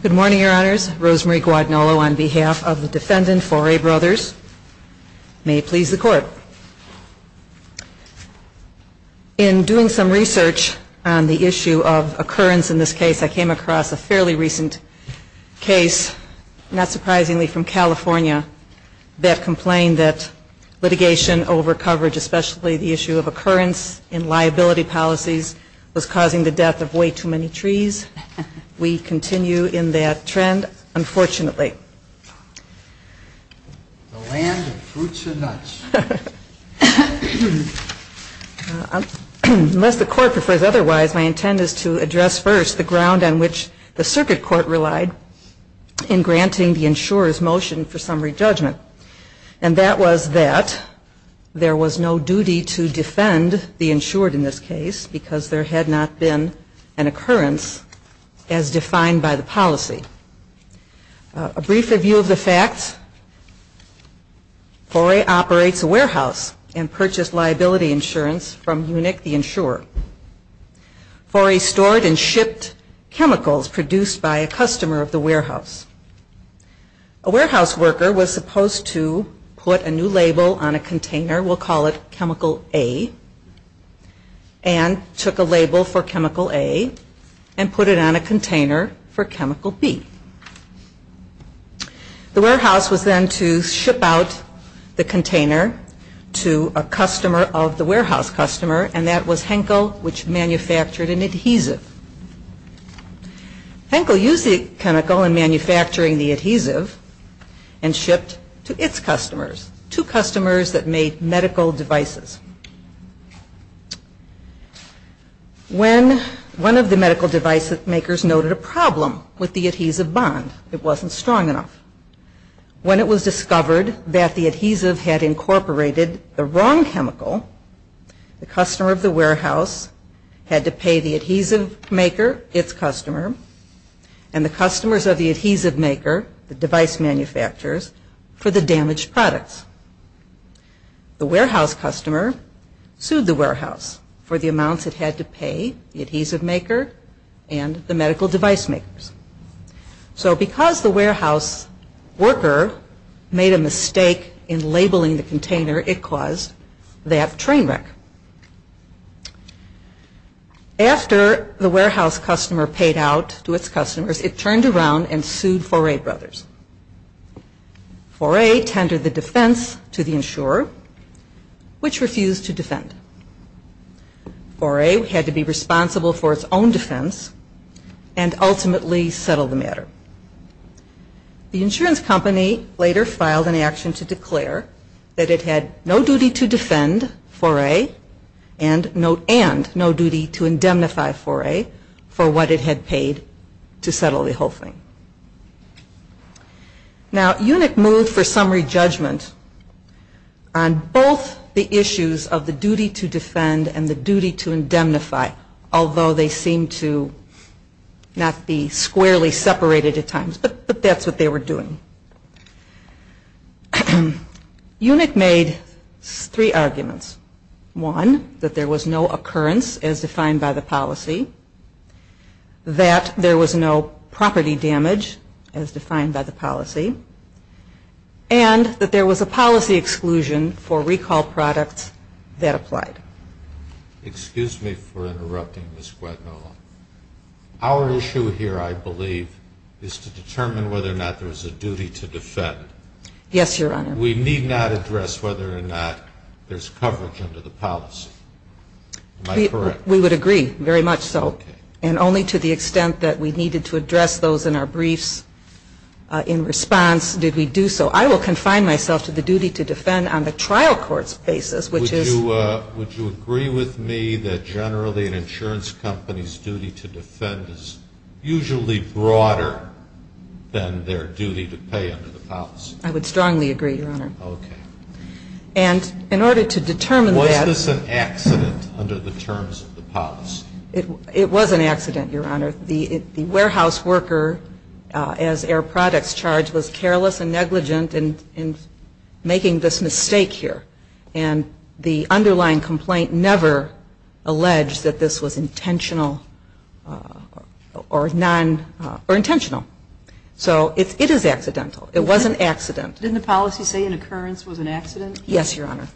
Good morning, Your Honors. Rosemary Guadagnolo on behalf of the defendant, Faure Brothers. May it please the Court. In doing some research on the issue of occurrence in this case, I came across a fairly recent case, not surprisingly from California, that complained that litigation over coverage, especially the issue of occurrence in liability policies, was causing the death of way too many trees. We continue in that trend, unfortunately. Unless the Court prefers otherwise, my intent is to address first the ground on which the Circuit Court relied in granting the insurer's motion for summary judgment. And that was that there was no duty to defend the insured in this case because there had not been an occurrence as defined by the policy. A brief review of the facts, Faure operates a warehouse and purchased liability insurance from UNIC, the insurer. Faure stored and shipped chemicals produced by a customer of the warehouse. A warehouse worker was supposed to put a new label on a container, we'll call it chemical A, and took a label for chemical A and put it on a container for chemical B. The warehouse was then to ship out the container to a customer of the warehouse customer, and that was Henkel, which manufactured an adhesive. Henkel used the chemical in manufacturing the adhesive and shipped to its customers, two customers that made medical devices. When one of the medical device makers noted a problem with the adhesive bond, it wasn't strong enough. When it was discovered that the adhesive had incorporated the wrong chemical, the customer of the warehouse had to pay the adhesive maker, its customer, and the customers of the adhesive maker, the device manufacturers, for the damaged products. The warehouse customer sued the warehouse for the amounts it had to pay, the adhesive maker and the medical device makers. So because the warehouse worker made a mistake in labeling the container, it caused that train wreck. After the warehouse customer paid out to its customers, it turned around and sued Foray Brothers. Foray tendered the defense to the insurer, which refused to defend. Foray had to be responsible for its own defense and ultimately settle the matter. The insurance company later filed an action to declare that it had no duty to defend Foray and no duty to indemnify Foray for what it had paid to settle the whole thing. Now Unik moved for summary judgment on both the issues of the duty to defend and the duty to indemnify, although they seemed to not be squarely separated at times, but that's what they were doing. Unik made three arguments. One, that there was no occurrence as defined by the policy, that there was no property damage as defined by the policy, and that there was a policy exclusion for recall products that applied. Excuse me for interrupting, Ms. Guadnola. Our issue here, I believe, is to determine whether or not there was a duty to defend. Yes, Your Honor. We need not address whether or not there's coverage under the policy. Am I correct? We would agree, very much so, and only to the extent that we needed to address those in our briefs in response did we do so. I will confine myself to the duty to defend on the trial court's basis, which is Would you agree with me that generally an insurance company's duty to defend is usually broader than their duty to pay under the policy? I would strongly agree, Your Honor. And in order to determine that Was this an accident under the terms of the policy? It was an accident, Your Honor. The warehouse worker, as air products charged, was careless and negligent in making this mistake here. And the underlying complaint never alleged that this was intentional or non- or intentional. So it is accidental. It was an accident. Didn't the policy say an occurrence was an accident? Yes, Your Honor.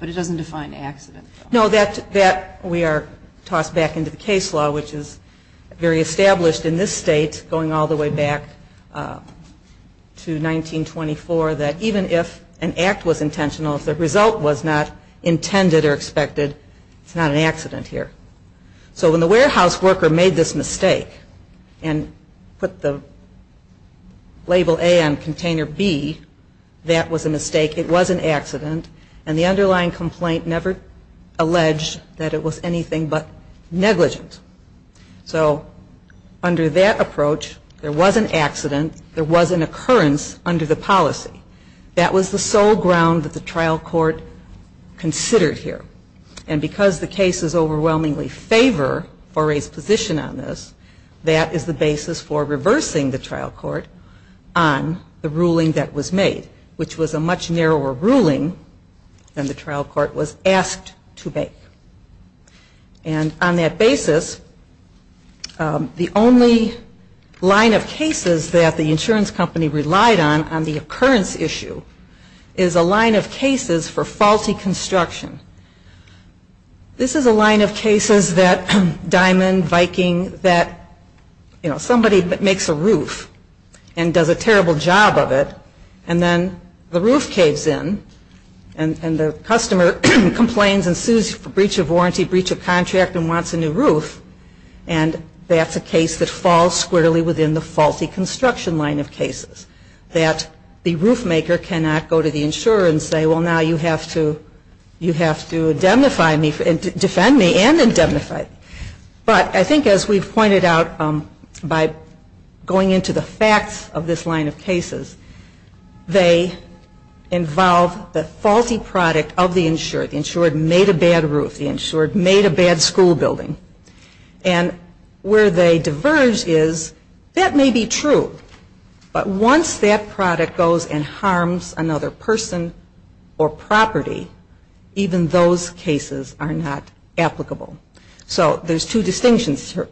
But it doesn't define accidental. No, that we are tossed back into the case law, which is very established in this state going all the way back to 1924, that even if an act was intentional, if the result was not intended or expected, it's not an accident here. So when the warehouse worker made this mistake and put the label A on container B, that was a mistake. It was an accident. And the underlying complaint never alleged that it was anything but negligent. So under that approach, there was an accident. There was an occurrence under the policy. That was the sole ground that the trial court considered here. And because the cases overwhelmingly favor Fauré's position on this, that is the basis for reversing the trial court on the ruling that was made, which was a much narrower ruling than the trial court was asked to make. And on that basis, the only line of cases that the insurance company relied on on the occurrence issue is a line of cases for faulty construction. This is a line of cases that Diamond, Viking, that somebody makes a roof and does a terrible job of it, and then the roof caves in, and the customer complains and sues for breach of warranty, breach of contract, and wants a new roof. And that's a case that falls squarely within the faulty construction line of cases. That the roof maker cannot go to the insurer and say, well, now you have to indemnify me and defend me and indemnify me. But I think as we've pointed out, by going into the facts of this line of cases, they involve the faulty product of the insurer, the insurer made a bad roof, the insurer made a bad school building. And where they diverge is, that may be true, but once that product goes and harms another person or property, even those cases are not applicable. So there's two distinctions here.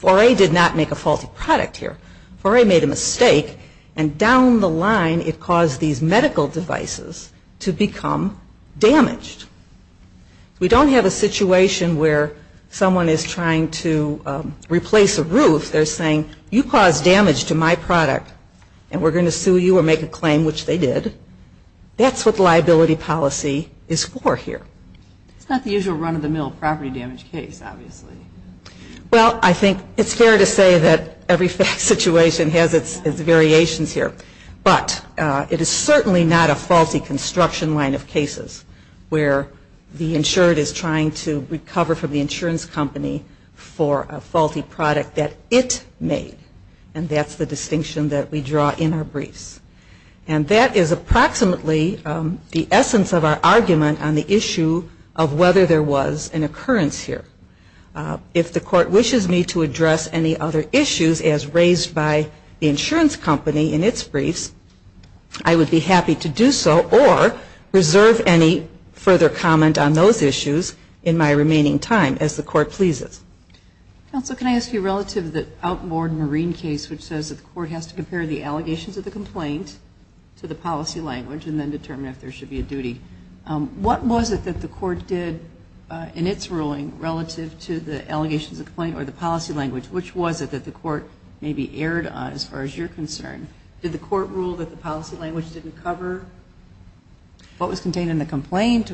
4A did not make a faulty product here. 4A made a mistake, and down the line it caused these medical devices to become damaged. We don't have a situation where someone is trying to replace a roof. They're saying, you caused damage to my product, and we're going to sue you or make a claim, which they did. That's what liability policy is for here. It's not the usual run-of-the-mill property damage case, obviously. Well I think it's fair to say that every fact situation has its variations here. But it is certainly not a faulty construction line of cases where the insurer is trying to recover from the insurance company for a faulty product that it made. And that's the distinction that we draw in our briefs. And that is approximately the essence of our argument on the issue of whether there was an occurrence here. If the Court wishes me to address any other issues as raised by the insurance company in its briefs, I would be happy to do so or reserve any further comment on those issues in my remaining time as the Court pleases. Counsel, can I ask you relative to the outboard marine case which says that the Court has to compare the allegations of the complaint to the policy language and then determine if there should be a duty. What was it that the Court did in its ruling relative to the allegations of the complaint or the policy language? Which was it that the Court maybe erred on as far as you're concerned? Did the Court rule that the policy language didn't cover what was contained in the complaint?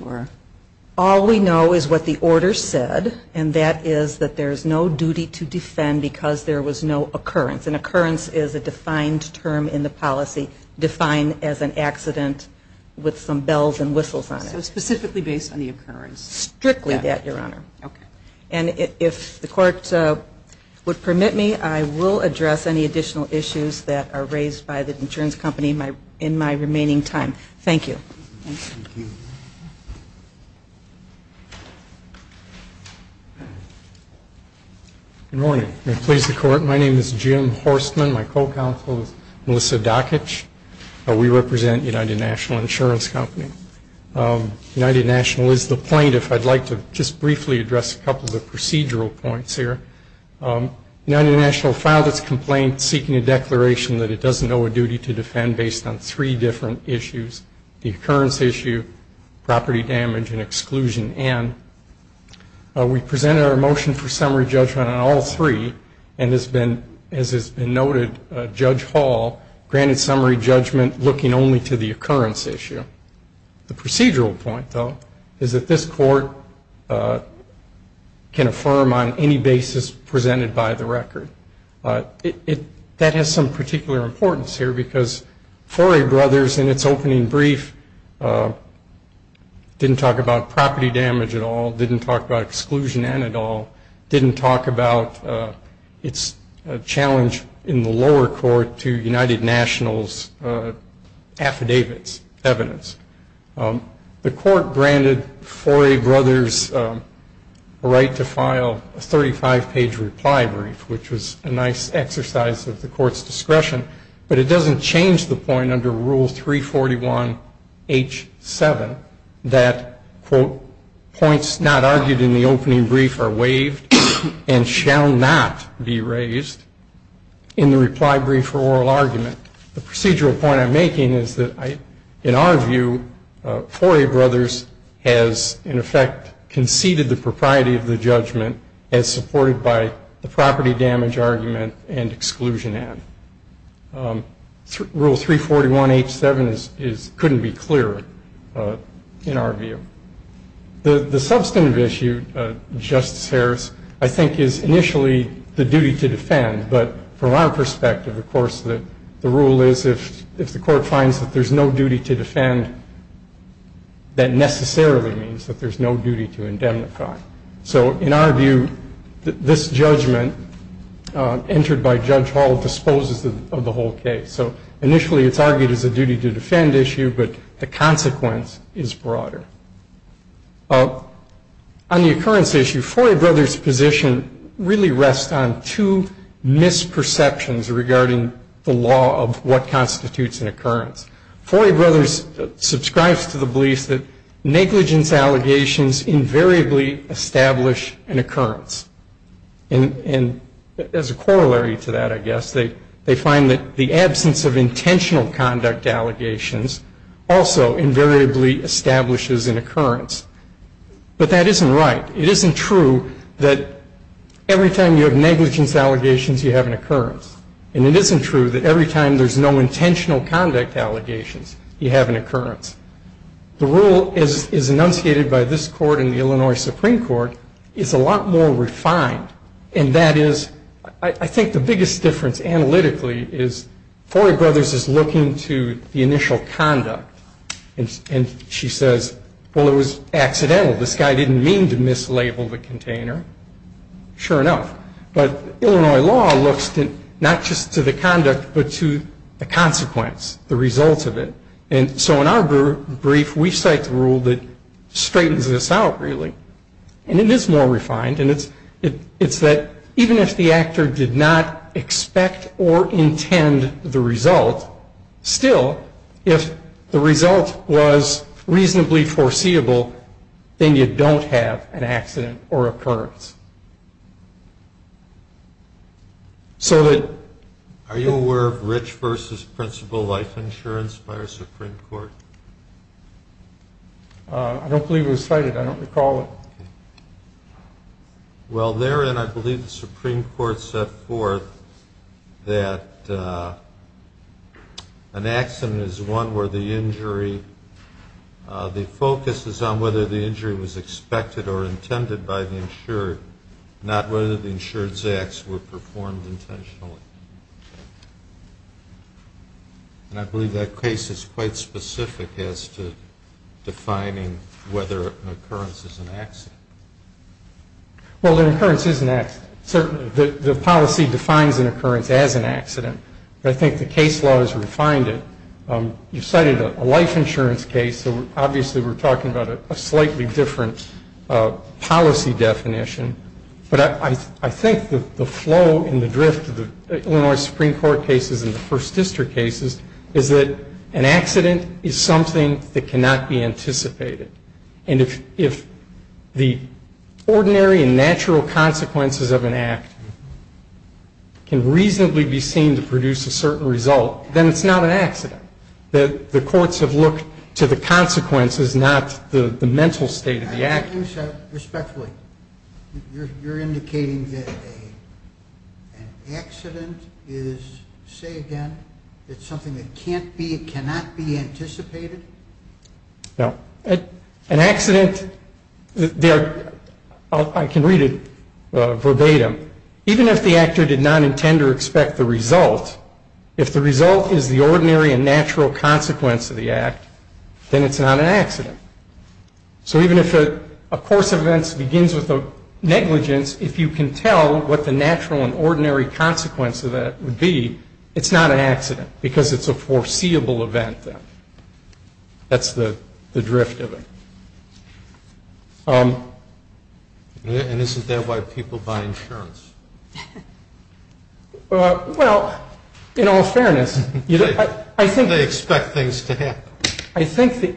All we know is what the order said, and that is that there's no duty to defend because there was no occurrence. An occurrence is a defined term in the policy, defined as an accident with some bells and whistles on it. So specifically based on the occurrence? Strictly that, Your Honor. And if the Court would permit me, I will address any additional issues that are raised by the insurance company in my remaining time. Thank you. Good morning. May it please the Court. My name is Jim Horstman. My co-counsel is Melissa Dokich. We represent United National Insurance Company. United National is the plaintiff. I'd like to just briefly address a couple of procedural points here. United National filed its complaint seeking a declaration that it doesn't owe a duty to defend based on three different issues. The occurrence issue, property damage, and exclusion and. We presented our motion for summary judgment on all three, and as has been noted, Judge Hall granted summary judgment looking only to the occurrence issue. The procedural point, though, is that this Court can affirm on any basis presented by the record. That has some particular importance here because Forey Brothers, in its opening brief, didn't talk about property damage at all, didn't talk about exclusion and at all, didn't talk about its challenge in the lower court to United National's affidavits, evidence. The Court granted Forey Brothers a right to file a 35-page reply brief, which was a nice exercise of the Court's discretion. But it doesn't change the point under Rule 341H7 that, quote, points not argued in the opening brief are waived and shall not be raised in the reply brief or oral argument. The procedural point I'm making is that, in our view, Forey Brothers has, in effect, conceded the propriety of the judgment as supported by the property damage argument and exclusion and rule 341H7 couldn't be clearer in our view. The substantive issue, Justice Harris, I think is initially the duty to defend. But from our perspective, of course, the rule is if the Court finds that there's no duty to defend, that necessarily means that there's no duty to indemnify. So in our view, this judgment entered by Judge Hall disposes of the whole case. So initially, it's argued as a duty to defend issue, but the consequence is broader. On the occurrence issue, Forey Brothers' position really rests on two misperceptions regarding the law of what constitutes an occurrence. Forey Brothers subscribes to the beliefs that negligence allegations invariably establish an occurrence. And as a corollary to that, I guess, they find that the absence of intentional conduct allegations also invariably establishes an occurrence. But that isn't right. It isn't true that every time you have negligence allegations, you have an occurrence. And it isn't true that every time there's no intentional conduct allegations, you have an occurrence. The rule is enunciated by this Court in the Illinois Supreme Court, it's a lot more refined. And that is, I think the biggest difference analytically is Forey Brothers is looking to the initial conduct. And she says, well, it was accidental. This guy didn't mean to mislabel the container, sure enough. But Illinois law looks not just to the conduct, but to the consequence, the result of it. And so in our brief, we cite the rule that straightens this out, really. And it is more refined, and it's that even if the actor did not expect or intend the result, still, if the result was reasonably foreseeable, then you don't have an accident or occurrence. So that- Are you aware of Rich v. Principal Life Insurance by our Supreme Court? I don't believe it was cited. I don't recall it. Well, therein, I believe the Supreme Court set forth that an accident is one where the injury, the focus is on whether the injury was expected or intended by the insured, not whether the insured's acts were performed intentionally. And I believe that case is quite specific as to defining whether an occurrence is an accident. Well, an occurrence is an accident. Certainly, the policy defines an occurrence as an accident. But I think the case law has refined it. You cited a life insurance case. So obviously, we're talking about a slightly different policy definition. But I think the flow and the drift of the Illinois Supreme Court cases and the First District cases is that an accident is something that cannot be anticipated. And if the ordinary and natural consequences of an act can reasonably be seen to produce a certain result, then it's not an accident. The courts have looked to the consequences, not the mental state of the act. You said, respectfully, you're indicating that an accident is, say again, it's something that can't be, cannot be anticipated? No. An accident, I can read it verbatim. Even if the actor did not intend or expect the result, if the result is the ordinary and natural consequence of the act, then it's not an accident. So even if a course of events begins with a negligence, if you can tell what the natural and ordinary consequence of that would be, it's not an accident because it's a foreseeable event then. That's the drift of it. And isn't that why people buy insurance? Well, in all fairness, I think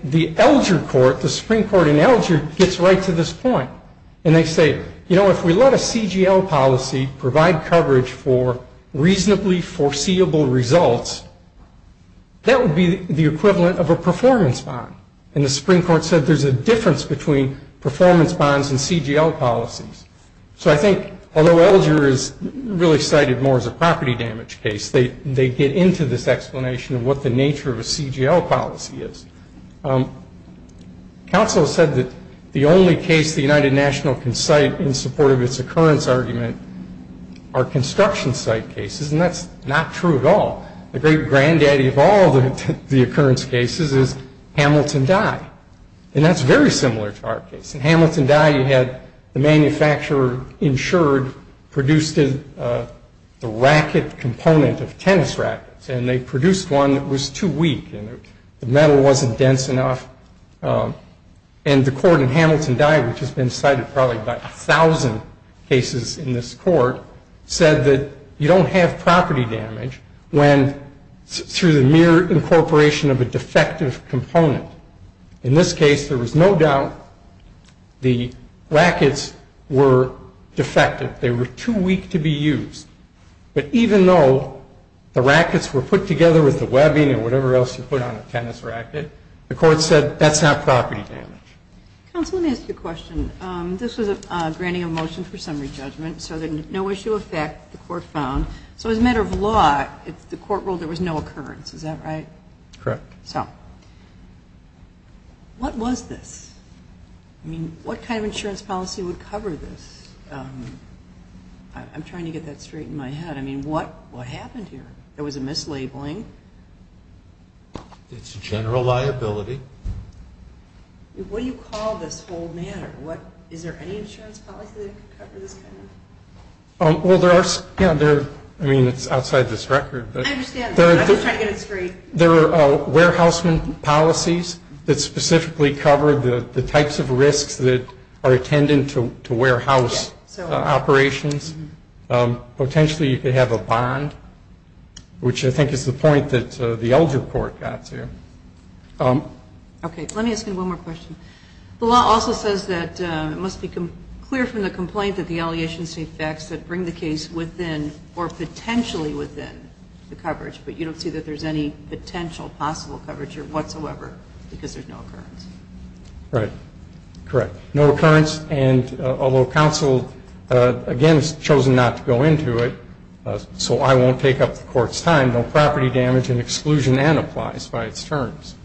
the Elger Court, the Supreme Court in Elger, gets right to this point and they say, you know, if we let a CGL policy provide coverage for reasonably foreseeable results, that would be the equivalent of a performance bond. And the Supreme Court said there's a difference between performance bonds and CGL policies. So I think although Elger is really cited more as a property damage case, they get into this explanation of what the nature of a CGL policy is. Counsel said that the only case the United National can cite in support of its occurrence argument are construction site cases, and that's not true at all. The great granddaddy of all the occurrence cases is Hamilton Dye. And that's very similar to our case. In Hamilton Dye you had the manufacturer insured produced a racket component of tennis rackets, and they produced one that was too weak and the metal wasn't dense enough. And the court in Hamilton Dye, which has been cited probably by a thousand cases in this court, said that you don't have property damage through the mere incorporation of a defective component. In this case there was no doubt the rackets were defective. They were too weak to be used. But even though the rackets were put together with the webbing and whatever else you put on a tennis racket, the court said that's not property damage. Counsel, let me ask you a question. This was a granting of motion for summary judgment, so there's no issue of fact the court found. So as a matter of law, if the court ruled there was no occurrence, is that right? Correct. So what was this? I mean, what kind of insurance policy would cover this? I'm trying to get that straight in my head. I mean, what happened here? There was a mislabeling. It's a general liability. What do you call this whole matter? Is there any insurance policy that could cover this kind of thing? Well, there are some. I mean, it's outside this record. I understand. I'm just trying to get it straight. There are warehousement policies that specifically cover the types of risks that are attendant to warehouse operations. Potentially, you could have a bond, which I think is the point that the elder court got to. Okay. Let me ask you one more question. The law also says that it must be clear from the complaint that the allegations take effect that bring the case within or potentially within the coverage, but you don't see that there's any potential possible coverage whatsoever because there's no occurrence. Right. Correct. No occurrence, and although counsel, again, has chosen not to go into it, so I won't take up the Court's time, no property damage and exclusion and applies by its terms.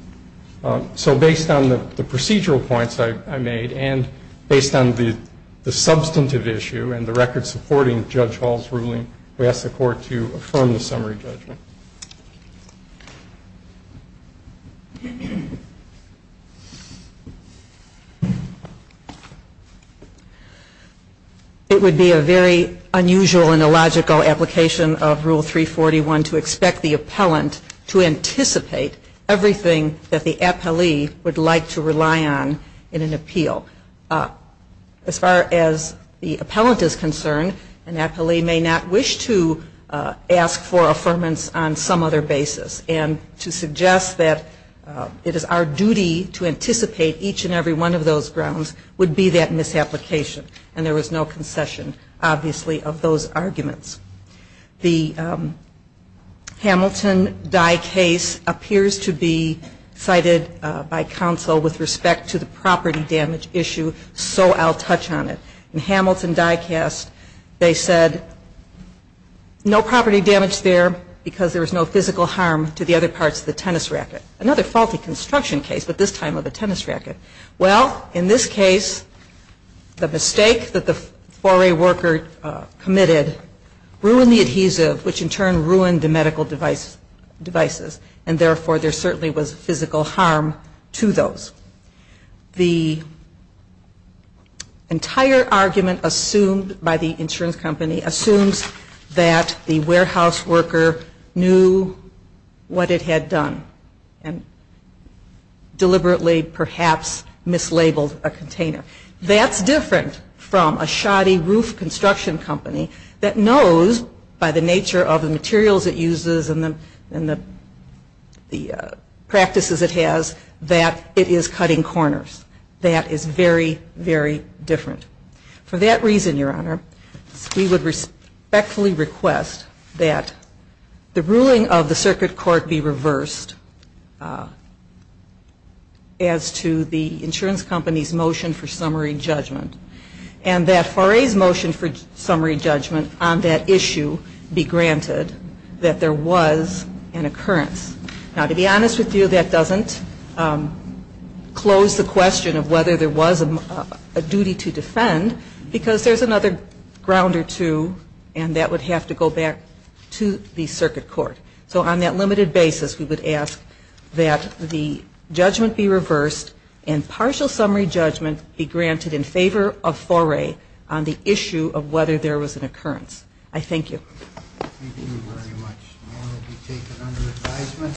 So based on the procedural points I made and based on the substantive issue and the record supporting Judge Hall's ruling, we ask the Court to affirm the summary judgment. It would be a very unusual and illogical application of Rule 341 to expect the appellant to anticipate everything that the appellee would like to rely on in an appeal. As far as the appellant is concerned, an appellee may not wish to ask for affirmance on some other basis, and to suggest that it is our duty to anticipate each and every one of those grounds would be that misapplication, and there was no concession, obviously, of those arguments. The Hamilton die case appears to be cited by counsel with respect to the property damage issue, so I'll touch on it. In Hamilton die cast, they said no property damage there because there was no physical harm to the other parts of the tennis racket. Another faulty construction case, but this time of a tennis racket. Well, in this case, the mistake that the foray worker committed ruined the adhesive, which in turn ruined the medical devices, and therefore there certainly was physical harm to those. The entire argument assumed by the insurance company assumes that the warehouse worker knew what it had done, and deliberately perhaps mislabeled a container. That's different from a shoddy roof construction company that knows by the nature of the materials it uses and the practices it has, that it is cutting corners. That is very, very different. For that reason, Your Honor, we would respectfully request that the ruling of the circuit court be reversed as to the insurance company's motion for summary judgment, and that foray's motion for summary judgment on that issue be granted, that there was an occurrence. Now, to be honest with you, that doesn't close the question of whether there was a duty to defend, because there's another ground or two, and that would have to go back to the circuit court. So on that limited basis, we would ask that the judgment be reversed and partial summary judgment be granted in favor of foray on the issue of whether there was an occurrence. I thank you. Thank you very much.